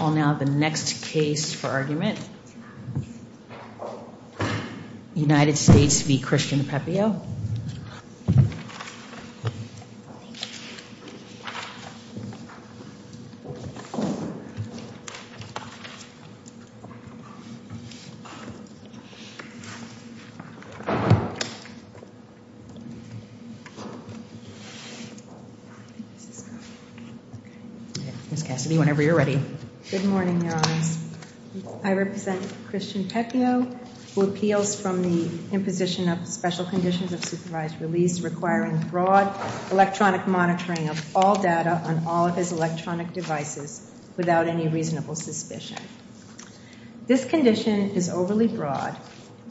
I'll now have the next case for argument. United States v. Christian Pepio. Ms. Cassidy, whenever you're ready. Good morning, Your Honors. I represent Christian Pepio, who appeals from the imposition of special conditions of supervised release requiring broad electronic monitoring of all data on all of his electronic devices without any reasonable suspicion. This condition is overly broad,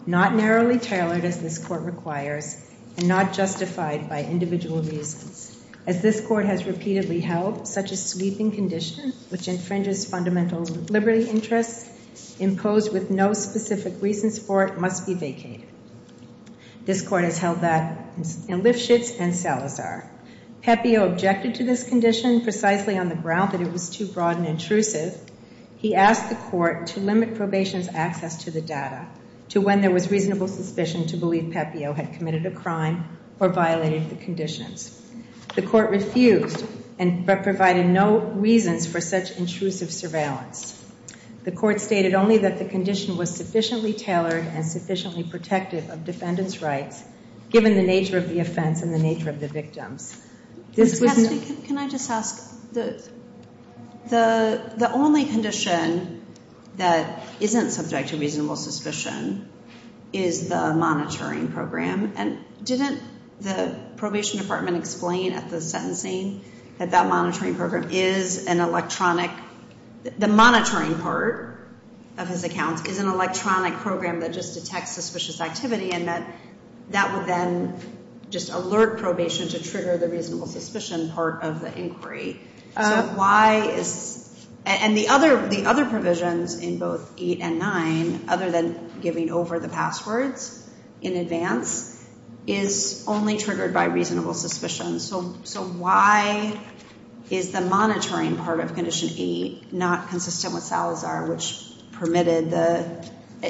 not narrowly tailored as this court requires, and not justified by individual reasons. As this court has repeatedly held, such a sweeping condition which infringes fundamental liberty interests imposed with no specific reasons for it must be vacated. This court has held that in Lifshitz and Salazar. Pepio objected to this condition precisely on the ground that it was too broad and intrusive. He asked the court to limit probation's access to the data to when there was reasonable suspicion to believe Pepio had committed a crime or violated the conditions. The court refused and provided no reasons for such intrusive surveillance. The court stated only that the condition was sufficiently tailored and sufficiently protective of defendant's rights given the nature of the offense and the nature of the victims. Ms. Cassidy, can I just ask, the only condition that isn't subject to reasonable suspicion is the monitoring program. And didn't the probation department explain at the sentencing that that monitoring program is an electronic, the monitoring part of his account is an electronic program that just detects suspicious activity and that that would then just alert probation to trigger the reasonable suspicion part of the inquiry. So why is, and the other provisions in both 8 and 9, other than giving over the passwords in advance, is only triggered by reasonable suspicion. So why is the monitoring part of Condition 8 not consistent with Salazar, which permitted the,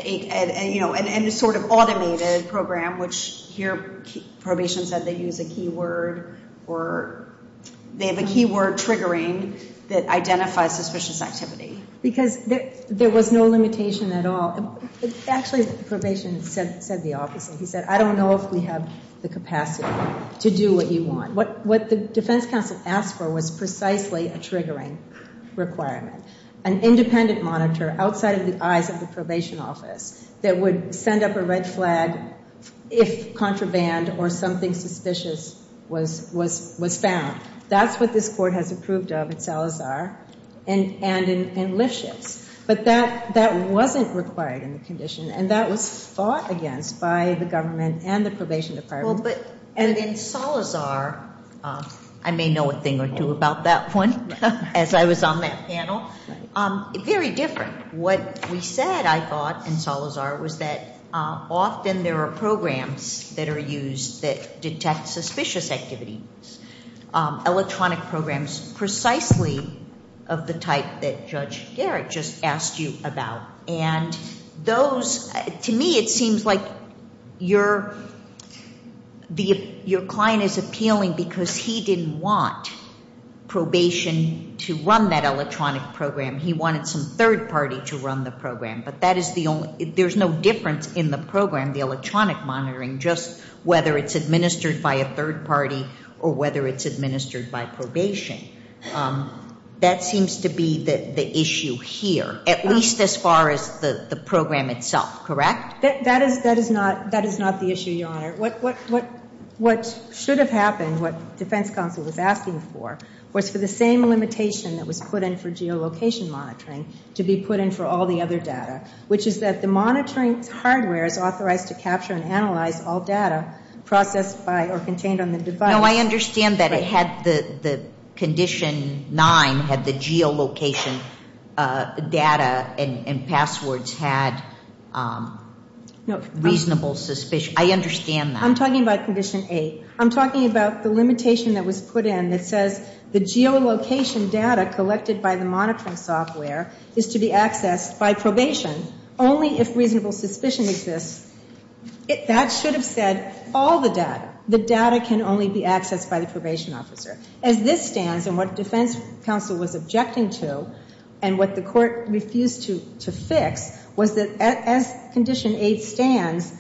you know, and sort of automated program, which here probation said they use a keyword or they have a keyword triggering that identifies suspicious activity. Because there was no limitation at all. Actually, probation said the opposite. He said, I don't know if we have the capacity to do what you want. What the defense counsel asked for was precisely a triggering requirement. An independent monitor outside of the eyes of the probation office that would send up a red flag if contraband or something suspicious was found. That's what this court has approved of at Salazar and in Lipschitz. But that wasn't required in the condition and that was fought against by the government and the probation department. But in Salazar, I may know a thing or two about that one as I was on that panel. Very different. What we said, I thought, in Salazar was that often there are programs that are used that detect suspicious activity. Electronic programs precisely of the type that Judge Garrett just asked you about. And those, to me, it seems like your client is appealing because he didn't want probation to run that electronic program. He wanted some third party to run the program. There's no difference in the program, the electronic monitoring, just whether it's administered by a third party or whether it's administered by probation. That seems to be the issue here, at least as far as the program itself. Correct? That is not the issue, Your Honor. What should have happened, what defense counsel was asking for, was for the same limitation that was put in for geolocation monitoring to be put in for all the other data, which is that the monitoring hardware is authorized to capture and analyze all data processed by or contained on the device. No, I understand that it had the condition nine had the geolocation data and passwords had reasonable suspicion. I understand that. I'm talking about condition eight. I'm talking about the limitation that was put in that says the geolocation data collected by the monitoring software is to be accessed by probation only if reasonable suspicion exists. That should have said all the data. The data can only be accessed by the probation officer. As this stands and what defense counsel was objecting to and what the court refused to fix was that as condition eight stands,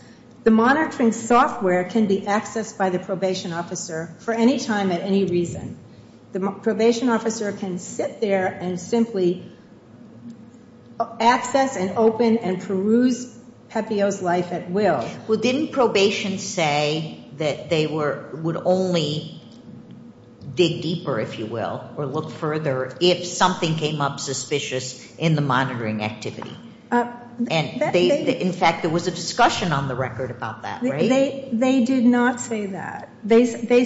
the monitoring software can be accessed by the probation officer for any time at any reason. The probation officer can sit there and simply access and open and peruse Pepeo's life at will. Well, didn't probation say that they would only dig deeper, if you will, or look further if something came up suspicious in the monitoring activity? In fact, there was a discussion on the record about that, right? They did not say that. They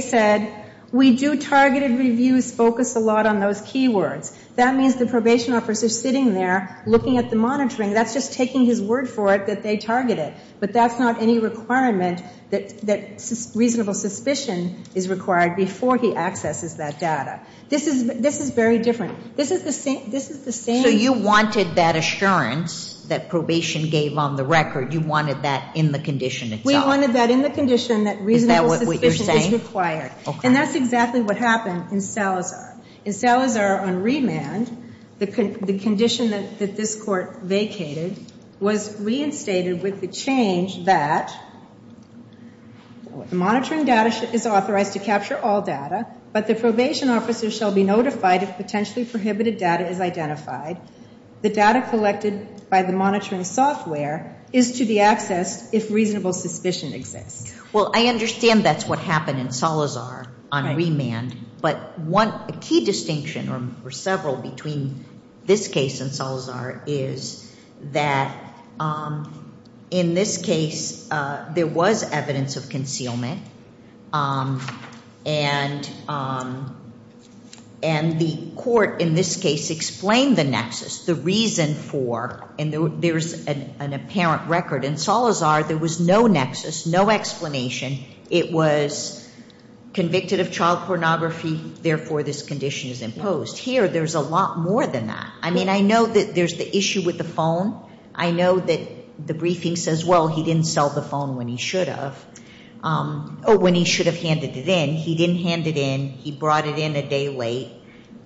said, we do targeted reviews focus a lot on those keywords. That means the probation officer is sitting there looking at the monitoring. That's just taking his word for it that they targeted. But that's not any requirement that reasonable suspicion is required before he accesses that data. This is very different. This is the same. So you wanted that assurance that probation gave on the record. You wanted that in the condition itself. We wanted that in the condition that reasonable suspicion is required. Is that what you're saying? And that's exactly what happened in Salazar. In Salazar on remand, the condition that this court vacated was reinstated with the change that monitoring data is authorized to capture all data, but the probation officer shall be notified if potentially prohibited data is identified. The data collected by the monitoring software is to be accessed if reasonable suspicion exists. Well, I understand that's what happened in Salazar on remand. But a key distinction, or several, between this case and Salazar is that in this case there was evidence of concealment. And the court in this case explained the nexus, the reason for, and there's an apparent record. In Salazar there was no nexus, no explanation. It was convicted of child pornography, therefore this condition is imposed. Here there's a lot more than that. I mean, I know that there's the issue with the phone. I know that the briefing says, well, he didn't sell the phone when he should have, or when he should have handed it in. He didn't hand it in. He brought it in a day late.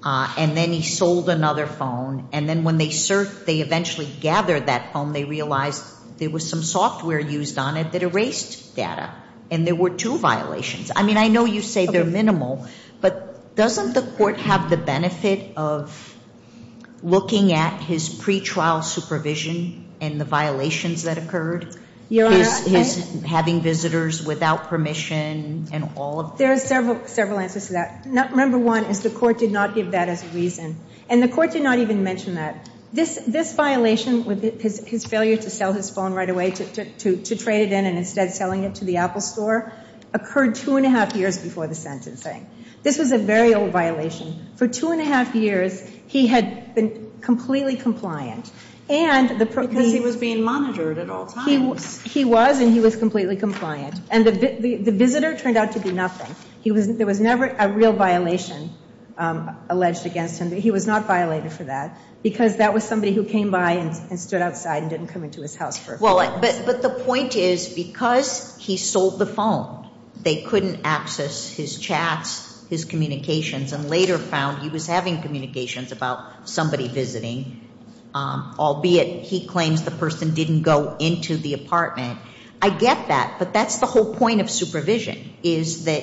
And then he sold another phone. And then when they searched, they eventually gathered that phone, they realized there was some software used on it that erased data. And there were two violations. I mean, I know you say they're minimal, but doesn't the court have the benefit of looking at his pretrial supervision and the violations that occurred, his having visitors without permission and all of that? There are several answers to that. Number one is the court did not give that as a reason. And the court did not even mention that. This violation, his failure to sell his phone right away, to trade it in and instead selling it to the Apple store, occurred two and a half years before the sentencing. This was a very old violation. For two and a half years he had been completely compliant. Because he was being monitored at all times. He was, and he was completely compliant. And the visitor turned out to be nothing. There was never a real violation alleged against him. He was not violated for that. Because that was somebody who came by and stood outside and didn't come into his house for a few hours. But the point is, because he sold the phone, they couldn't access his chats, his communications, and later found he was having communications about somebody visiting, albeit he claims the person didn't go into the apartment. I get that. But that's the whole point of supervision, is that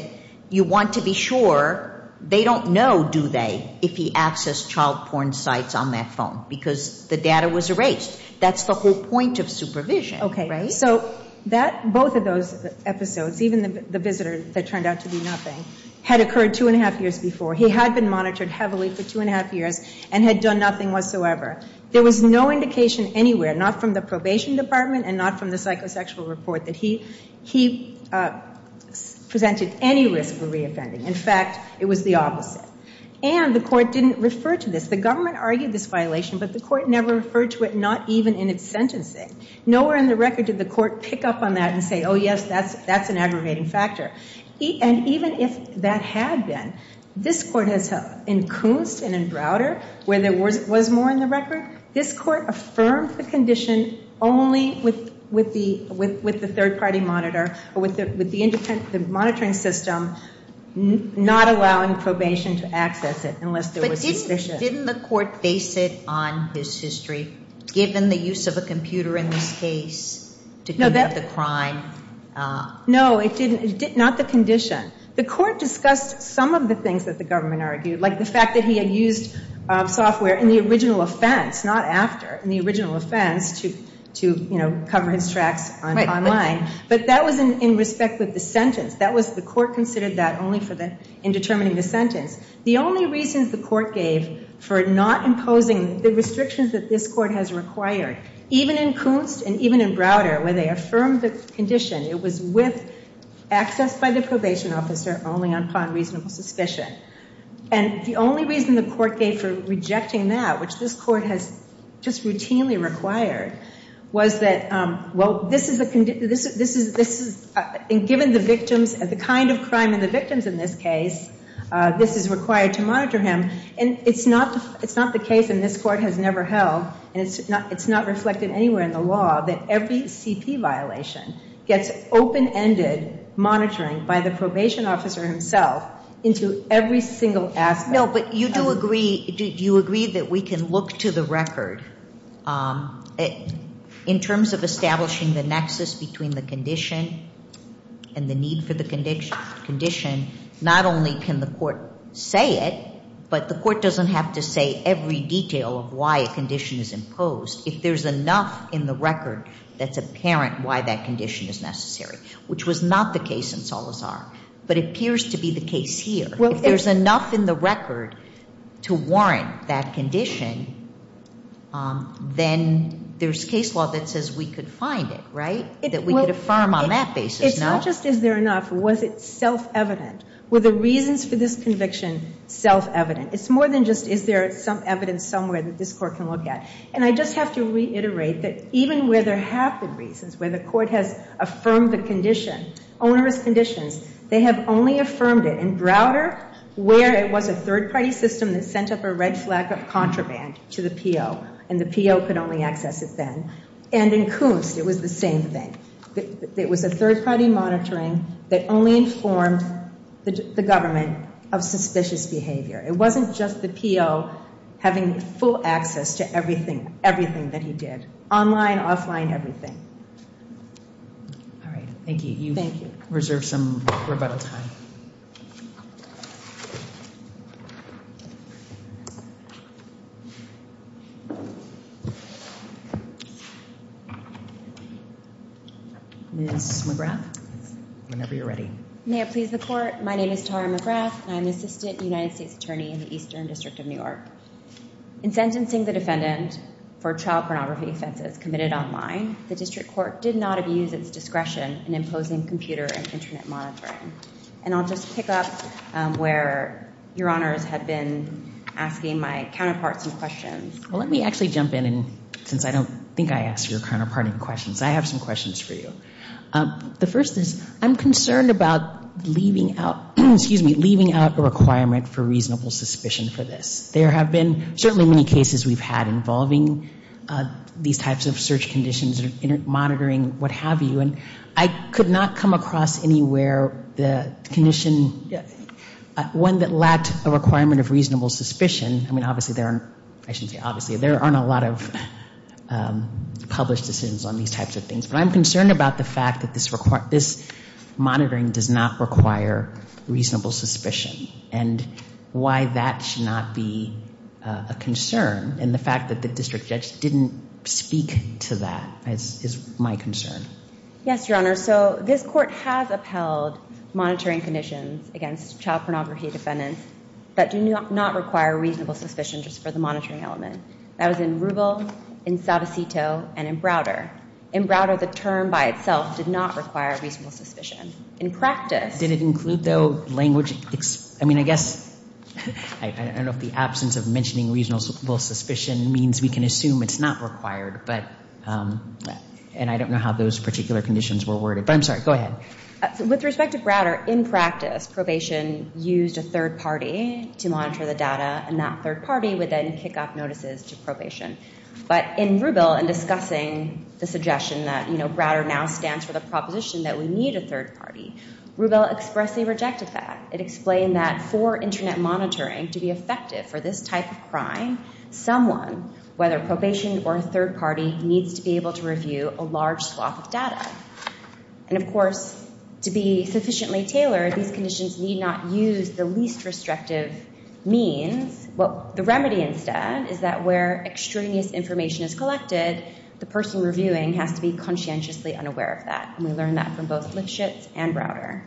you want to be sure they don't know, do they, if he accessed child porn sites on that phone. Because the data was erased. That's the whole point of supervision. So both of those episodes, even the visitor that turned out to be nothing, had occurred two and a half years before. He had been monitored heavily for two and a half years and had done nothing whatsoever. There was no indication anywhere, not from the probation department and not from the psychosexual report, that he presented any risk for reoffending. In fact, it was the opposite. And the court didn't refer to this. The government argued this violation, but the court never referred to it, not even in its sentencing. Nowhere in the record did the court pick up on that and say, oh, yes, that's an aggravating factor. And even if that had been, this court has, in Koonst and in Browder, where there was more in the record, this court affirmed the condition only with the third-party monitor or with the monitoring system, not allowing probation to access it unless there was sufficient. But didn't the court base it on his history, given the use of a computer in this case to commit the crime? No, it didn't. Not the condition. The court discussed some of the things that the government argued, like the fact that he had used software in the original offense, not after, in the original offense, to, you know, cover his tracks online. But that was in respect with the sentence. That was the court considered that only in determining the sentence. The only reasons the court gave for not imposing the restrictions that this court has required, even in Koonst and even in Browder, where they affirmed the condition, it was with access by the probation officer only upon reasonable suspicion. And the only reason the court gave for rejecting that, which this court has just routinely required, was that, well, this is a condition, this is, and given the victims and the kind of crime in the victims in this case, this is required to monitor him. And it's not the case, and this court has never held, and it's not reflected anywhere in the law that every CP violation gets open-ended monitoring by the probation officer himself into every single aspect. No, but you do agree, do you agree that we can look to the record in terms of establishing the nexus between the condition and the need for the condition? Not only can the court say it, but the court doesn't have to say every detail of why a condition is imposed. If there's enough in the record that's apparent why that condition is necessary, which was not the case in Salazar, but appears to be the case here. If there's enough in the record to warrant that condition, then there's case law that says we could find it, right? That we could affirm on that basis, no? It's not just is there enough, was it self-evident? Were the reasons for this conviction self-evident? It's more than just is there some evidence somewhere that this court can look at. And I just have to reiterate that even where there have been reasons, where the court has affirmed the condition, onerous conditions, they have only affirmed it in Browder where it was a third-party system that sent up a red flag of contraband to the PO, and the PO could only access it then. And in Koonst, it was the same thing. It was a third-party monitoring that only informed the government of suspicious behavior. It wasn't just the PO having full access to everything that he did, online, offline, everything. All right. Thank you. You've reserved some rebuttal time. Ms. McGrath, whenever you're ready. May it please the Court, my name is Tara McGrath, and I'm an Assistant United States Attorney in the Eastern District of New York. In sentencing the defendant for child pornography offenses committed online, the District Court did not abuse its discretion in imposing computer and internet monitoring. And I'll just pick up where Your Honors had been asking my counterparts some questions. Well, let me actually jump in, since I don't think I asked your counterpart any questions. I have some questions for you. The first is, I'm concerned about leaving out a requirement for reasonable suspicion for this. There have been certainly many cases we've had involving these types of search conditions, monitoring, what have you, and I could not come across anywhere the condition, one that lacked a requirement of reasonable suspicion. I mean, obviously there aren't, I shouldn't say obviously, there aren't a lot of published decisions on these types of things. But I'm concerned about the fact that this monitoring does not require reasonable suspicion and why that should not be a concern. And the fact that the District Judge didn't speak to that is my concern. Yes, Your Honor. So this Court has upheld monitoring conditions against child pornography defendants that do not require reasonable suspicion just for the monitoring element. That was in Rubel, in Sadocito, and in Browder. In Browder, the term by itself did not require reasonable suspicion. In practice... Did it include, though, language? I mean, I guess, I don't know if the absence of mentioning reasonable suspicion means we can assume it's not required. But, and I don't know how those particular conditions were worded. But I'm sorry, go ahead. With respect to Browder, in practice, probation used a third party to monitor the data, and that third party would then kick up notices to probation. But in Rubel, in discussing the suggestion that, you know, Browder now stands for the proposition that we need a third party, Rubel expressly rejected that. It explained that for Internet monitoring to be effective for this type of crime, someone, whether probation or a third party, needs to be able to review a large swath of data. And, of course, to be sufficiently tailored, these conditions need not use the least restrictive means. The remedy instead is that where extraneous information is collected, the person reviewing has to be conscientiously unaware of that. And we learned that from both Litschitz and Browder.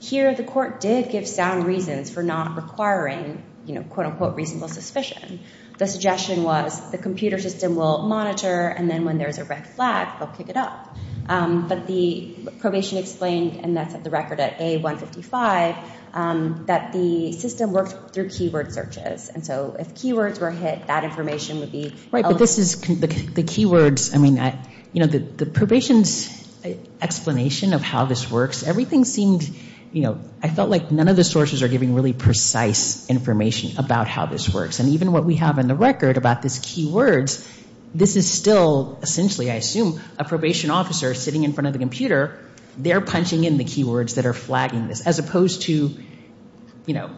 Here, the court did give sound reasons for not requiring, you know, quote-unquote reasonable suspicion. The suggestion was the computer system will monitor, and then when there's a red flag, they'll kick it up. But the probation explained, and that's at the record at A155, that the system worked through keyword searches. And so if keywords were hit, that information would be- Right, but this is, the keywords, I mean, you know, the probation's explanation of how this works, everything seemed, you know, I felt like none of the sources are giving really precise information about how this works. And even what we have in the record about this keywords, this is still essentially, I assume, a probation officer sitting in front of the computer, they're punching in the keywords that are flagging this, as opposed to, you know,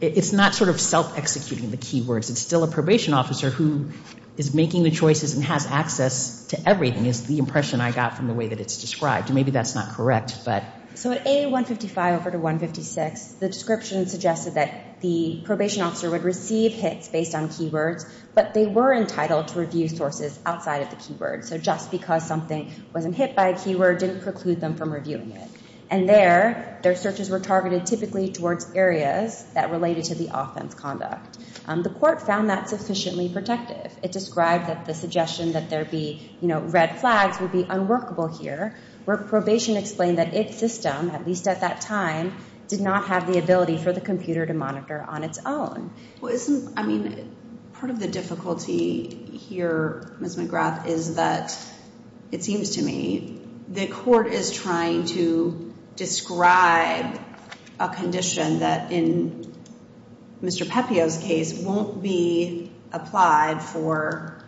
it's not sort of self-executing the keywords. It's still a probation officer who is making the choices and has access to everything, is the impression I got from the way that it's described. And maybe that's not correct, but- So at A155 over to 156, the description suggested that the probation officer would receive hits based on keywords, but they were entitled to review sources outside of the keywords. So just because something wasn't hit by a keyword didn't preclude them from reviewing it. And there, their searches were targeted typically towards areas that related to the offense conduct. The court found that sufficiently protective. It described that the suggestion that there be, you know, red flags would be unworkable here, where probation explained that its system, at least at that time, did not have the ability for the computer to monitor on its own. Well, isn't, I mean, part of the difficulty here, Ms. McGrath, is that, it seems to me, the court is trying to describe a condition that, in Mr. Pepeo's case, won't be applied for,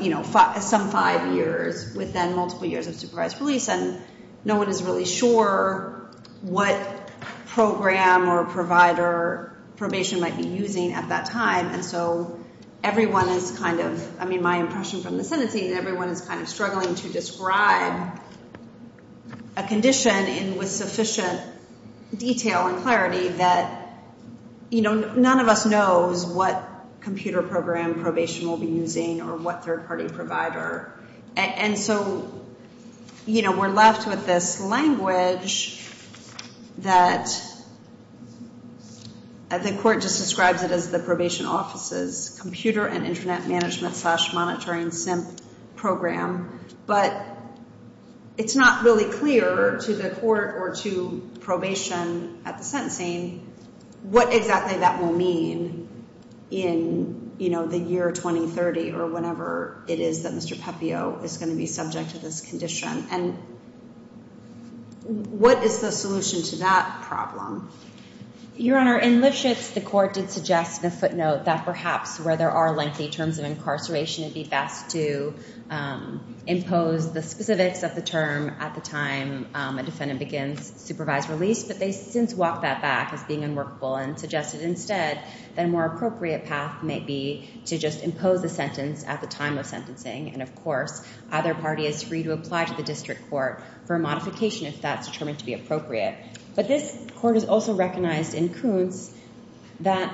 you know, some five years within multiple years of supervised release, and no one is really sure what program or provider probation might be using at that time. And so everyone is kind of, I mean, my impression from the sentencing, everyone is kind of struggling to describe a condition with sufficient detail and clarity that, you know, none of us knows what computer program probation will be using or what third-party provider. And so, you know, we're left with this language that the court just describes it as the probation office's computer and internet management slash monitoring SIMP program, but it's not really clear to the court or to probation at the sentencing what exactly that will mean in, you know, the year 2030 or whenever it is that Mr. Pepeo is going to be subject to this condition. And what is the solution to that problem? Your Honor, in Lipschitz, the court did suggest in a footnote that perhaps where there are lengthy terms of incarceration, it would be best to impose the specifics of the term at the time a defendant begins supervised release, but they since walk that back as being unworkable and suggested instead that a more appropriate path may be to just impose the sentence at the time of sentencing. And, of course, either party is free to apply to the district court for a modification if that's determined to be appropriate. But this court has also recognized in Kuntz that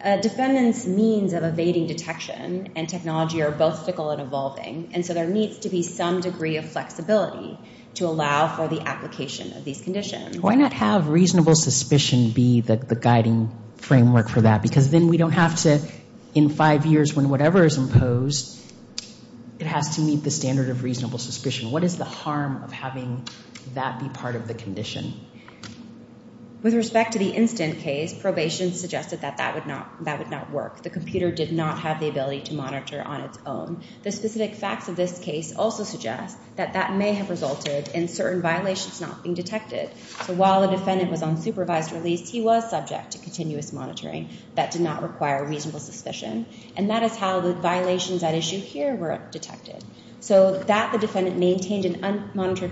a defendant's means of evading detection and technology are both fickle and evolving, and so there needs to be some degree of flexibility to allow for the application of these conditions. Why not have reasonable suspicion be the guiding framework for that? Because then we don't have to in five years when whatever is imposed, it has to meet the standard of reasonable suspicion. What is the harm of having that be part of the condition? With respect to the instant case, probation suggested that that would not work. The computer did not have the ability to monitor on its own. The specific facts of this case also suggest that that may have resulted in certain violations not being detected. So while the defendant was on supervised release, he was subject to continuous monitoring. That did not require reasonable suspicion. And that is how the violations at issue here were detected. So that the defendant maintained an unmonitored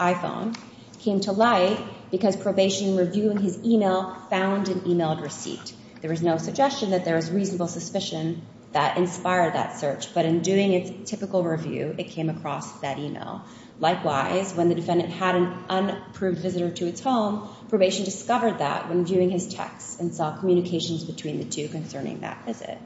iPhone came to light because probation reviewing his email found an emailed receipt. There was no suggestion that there was reasonable suspicion that inspired that search. But in doing its typical review, it came across that email. Likewise, when the defendant had an unapproved visitor to its home, probation discovered that when viewing his text and saw communications between the two concerning that visit.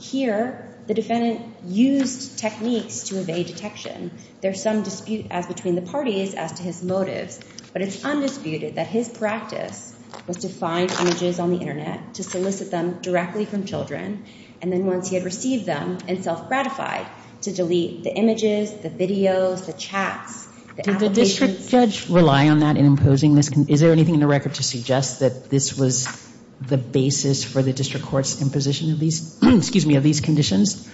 Here, the defendant used techniques to evade detection. There's some dispute as between the parties as to his motives. But it's undisputed that his practice was to find images on the internet, to solicit them directly from children. And then once he had received them and self-gratified to delete the images, the videos, the chats, the applications. Did the district judge rely on that in imposing this? Is there anything in the record to suggest that this was the basis for the district court's imposition of these conditions?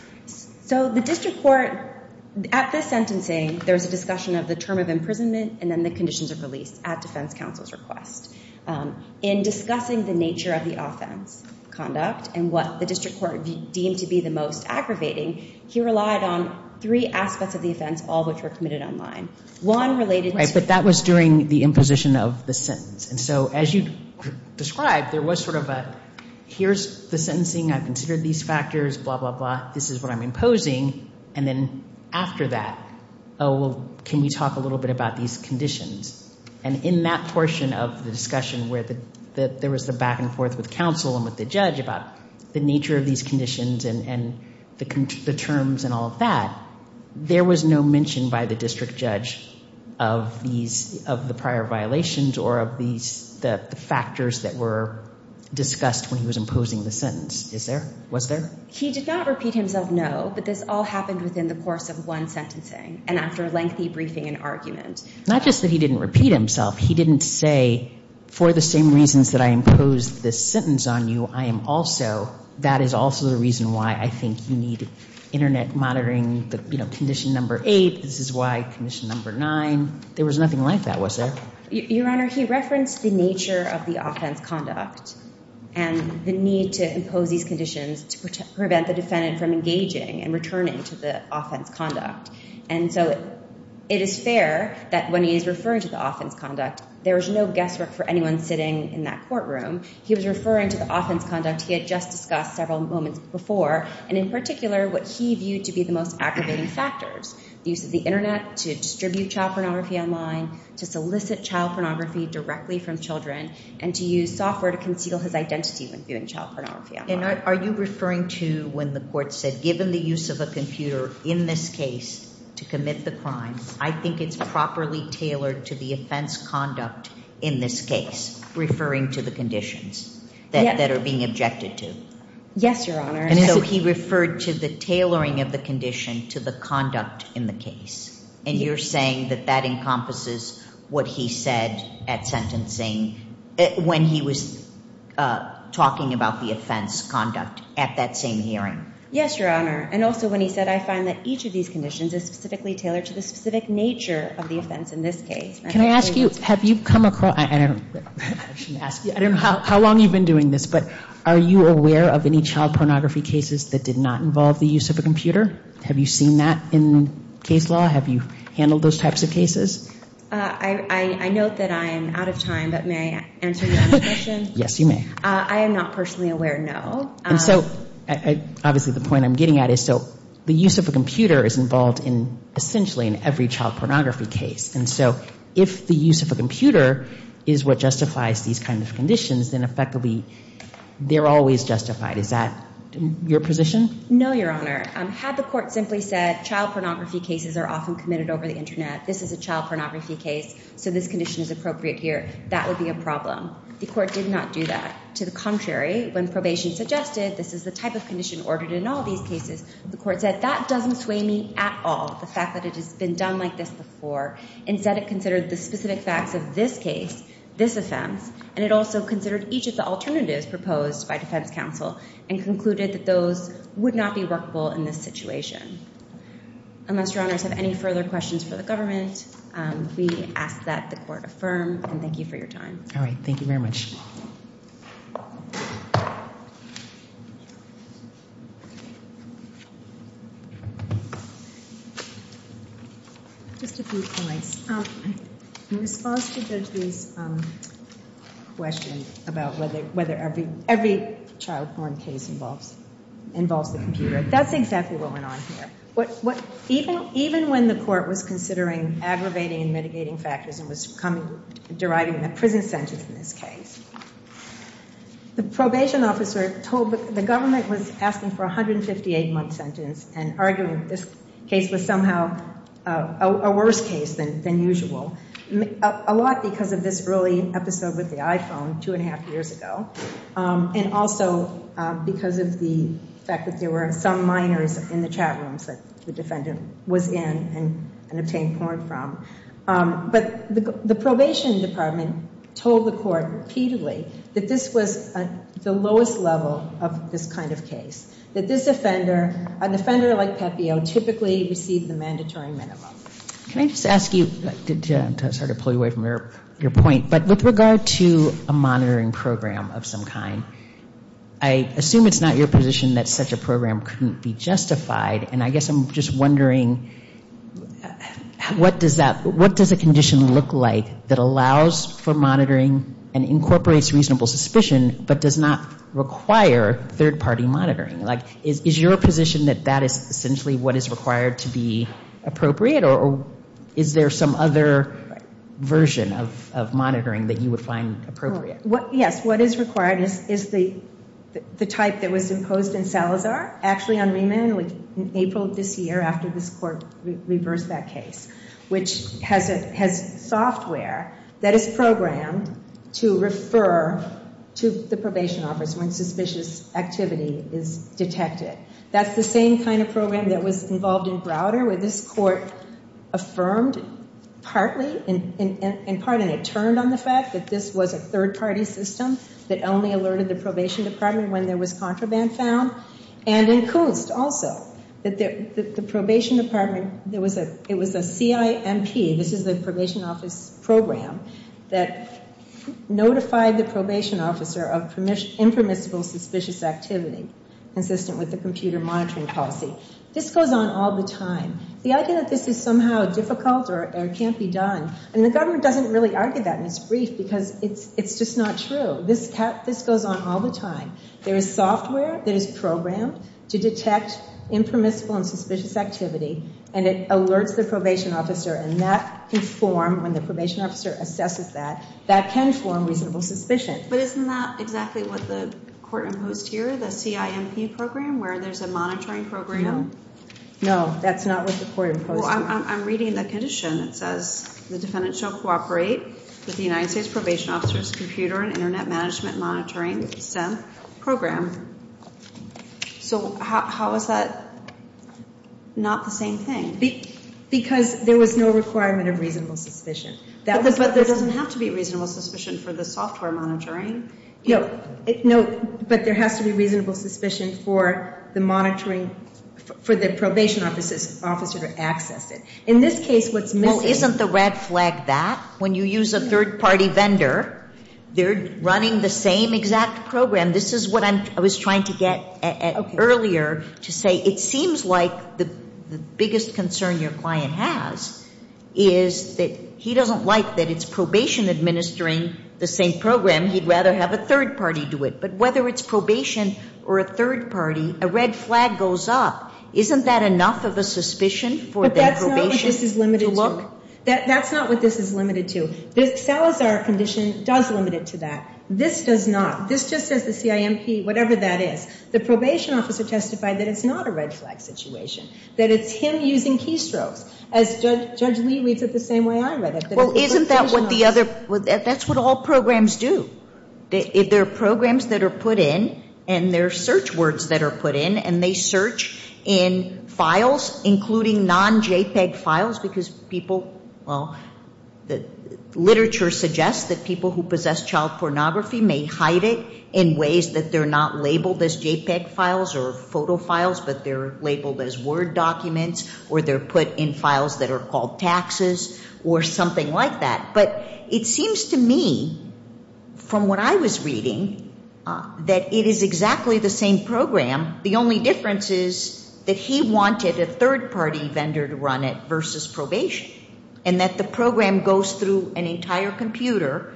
So the district court at this sentencing, there was a discussion of the term of imprisonment and then the conditions of release at defense counsel's request. In discussing the nature of the offense conduct and what the district court deemed to be the most aggravating, he relied on three aspects of the offense, all which were committed online. One related to- Right, but that was during the imposition of the sentence. And so as you described, there was sort of a, here's the sentencing. I've considered these factors, blah, blah, blah. This is what I'm imposing. And then after that, oh, well, can we talk a little bit about these conditions? And in that portion of the discussion where there was the back and forth with counsel and with the judge about the nature of these conditions and the terms and all of that, there was no mention by the district judge of the prior violations or of the factors that were discussed when he was imposing the sentence. Was there? He did not repeat himself no, but this all happened within the course of one sentencing and after a lengthy briefing and argument. Not just that he didn't repeat himself, he didn't say, for the same reasons that I imposed this sentence on you, I am also, that is also the reason why I think you need internet monitoring condition number eight, this is why condition number nine. There was nothing like that, was there? Your Honor, he referenced the nature of the offense conduct and the need to impose these conditions to prevent the defendant from engaging and returning to the offense conduct. And so it is fair that when he is referring to the offense conduct, there is no guesswork for anyone sitting in that courtroom. He was referring to the offense conduct he had just discussed several moments before and in particular what he viewed to be the most aggravating factors. The use of the internet to distribute child pornography online, to solicit child pornography directly from children and to use software to conceal his identity when viewing child pornography online. And are you referring to when the court said, given the use of a computer in this case to commit the crime, I think it's properly tailored to the offense conduct in this case, referring to the conditions that are being objected to? Yes, Your Honor. And so he referred to the tailoring of the condition to the conduct in the case. And you're saying that that encompasses what he said at sentencing when he was talking about the offense conduct at that same hearing? Yes, Your Honor. And also when he said, I find that each of these conditions is specifically tailored to the specific nature of the offense in this case. Can I ask you, have you come across, I don't know how long you've been doing this, but are you aware of any child pornography cases that did not involve the use of a computer? Have you seen that in case law? Have you handled those types of cases? I note that I am out of time, but may I answer your question? Yes, you may. I am not personally aware, no. And so obviously the point I'm getting at is, so the use of a computer is involved in essentially in every child pornography case. And so if the use of a computer is what justifies these kinds of conditions, then effectively they're always justified. Is that your position? No, Your Honor. Had the court simply said child pornography cases are often committed over the Internet, this is a child pornography case, so this condition is appropriate here, that would be a problem. The court did not do that. To the contrary, when probation suggested this is the type of condition ordered in all these cases, the court said that doesn't sway me at all, the fact that it has been done like this before. Instead it considered the specific facts of this case, this offense, and it also considered each of the alternatives proposed by defense counsel and concluded that those would not be workable in this situation. Unless Your Honors have any further questions for the government, we ask that the court affirm, and thank you for your time. All right. Thank you very much. Just a few points. In response to Judge Lee's question about whether every child porn case involves the computer, that's exactly what went on here. Even when the court was considering aggravating and mitigating factors and was deriving a prison sentence in this case, the probation officer told the government was asking for a 158-month sentence and arguing this case was somehow a worse case than usual, a lot because of this early episode with the iPhone two and a half years ago and also because of the fact that there were some minors in the chat rooms that the defendant was in and obtained porn from. But the probation department told the court repeatedly that this was the lowest level of this kind of case, that this offender, an offender like Pepeo, typically received the mandatory minimum. Can I just ask you, I'm sorry to pull you away from your point, but with regard to a monitoring program of some kind, I assume it's not your position that such a program couldn't be justified, and I guess I'm just wondering what does a condition look like that allows for monitoring and incorporates reasonable suspicion but does not require third-party monitoring? Is your position that that is essentially what is required to be appropriate or is there some other version of monitoring that you would find appropriate? Yes, what is required is the type that was imposed in Salazar, actually on Reman in April of this year after this court reversed that case, which has software that is programmed to refer to the probation officer when suspicious activity is detected. That's the same kind of program that was involved in Browder where this court affirmed partly, and pardon me, turned on the fact that this was a third-party system that only alerted the probation department when there was contraband found, and in Couste also. The probation department, it was a CIMP, this is the probation office program, that notified the probation officer of impermissible suspicious activity consistent with the computer monitoring policy. This goes on all the time. The idea that this is somehow difficult or can't be done, and the government doesn't really argue that in its brief because it's just not true. This goes on all the time. There is software that is programmed to detect impermissible and suspicious activity, and it alerts the probation officer, and that can form, when the probation officer assesses that, that can form reasonable suspicion. But isn't that exactly what the court imposed here, the CIMP program, where there's a monitoring program? No, that's not what the court imposed. Well, I'm reading the condition. It says the defendant shall cooperate with the United States Probation Officer's Computer and Internet Management Monitoring Program. So how is that not the same thing? Because there was no requirement of reasonable suspicion. But there doesn't have to be reasonable suspicion for the software monitoring. No, but there has to be reasonable suspicion for the monitoring, for the probation officer to access it. In this case, what's missing is that. Well, isn't the red flag that? When you use a third-party vendor, they're running the same exact program. This is what I was trying to get at earlier, to say it seems like the biggest concern your client has is that he doesn't like that it's probation administering the same program. He'd rather have a third party do it. But whether it's probation or a third party, a red flag goes up. Isn't that enough of a suspicion for the probation to look? But that's not what this is limited to. That's not what this is limited to. The Salazar condition does limit it to that. This does not. This just says the CIMP, whatever that is. The probation officer testified that it's not a red flag situation, that it's him using keystrokes. As Judge Lee reads it the same way I read it. Well, isn't that what the other – that's what all programs do. There are programs that are put in, and there are search words that are put in, and they search in files, including non-JPEG files, because people – well, literature suggests that people who possess child pornography may hide it in ways that they're not labeled as JPEG files or photo files, but they're labeled as Word documents or they're put in files that are called taxes or something like that. But it seems to me, from what I was reading, that it is exactly the same program. The only difference is that he wanted a third party vendor to run it versus probation and that the program goes through an entire computer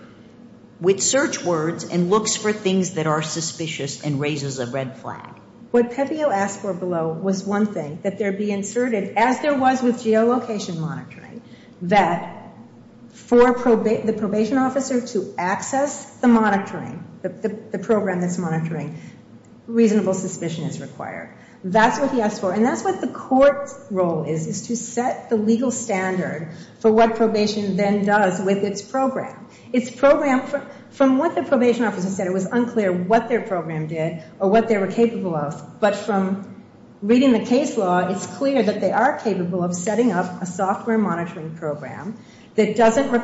with search words and looks for things that are suspicious and raises a red flag. What Pepeo asked for below was one thing, that there be inserted, as there was with geolocation monitoring, that for the probation officer to access the monitoring, the program that's monitoring, reasonable suspicion is required. That's what he asked for, and that's what the court's role is, is to set the legal standard for what probation then does with its program. Its program, from what the probation officer said, it was unclear what their program did or what they were capable of, but from reading the case law, it's clear that they are capable of setting up a software monitoring program that doesn't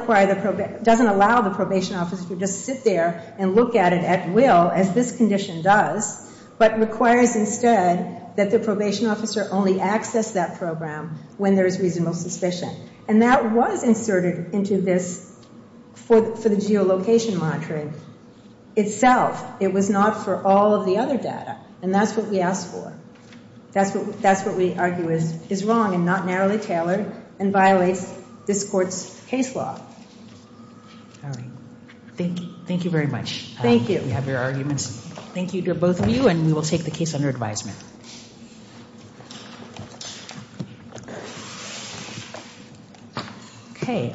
allow the probation officer to just sit there and look at it at will, as this condition does, but requires instead that the probation officer only access that program when there is reasonable suspicion. And that was inserted into this for the geolocation monitoring itself. It was not for all of the other data, and that's what we asked for. That's what we argue is wrong and not narrowly tailored and violates this court's case law. All right. Thank you very much. Thank you. We have your arguments. Thank you to both of you, and we will take the case under advisement. Okay.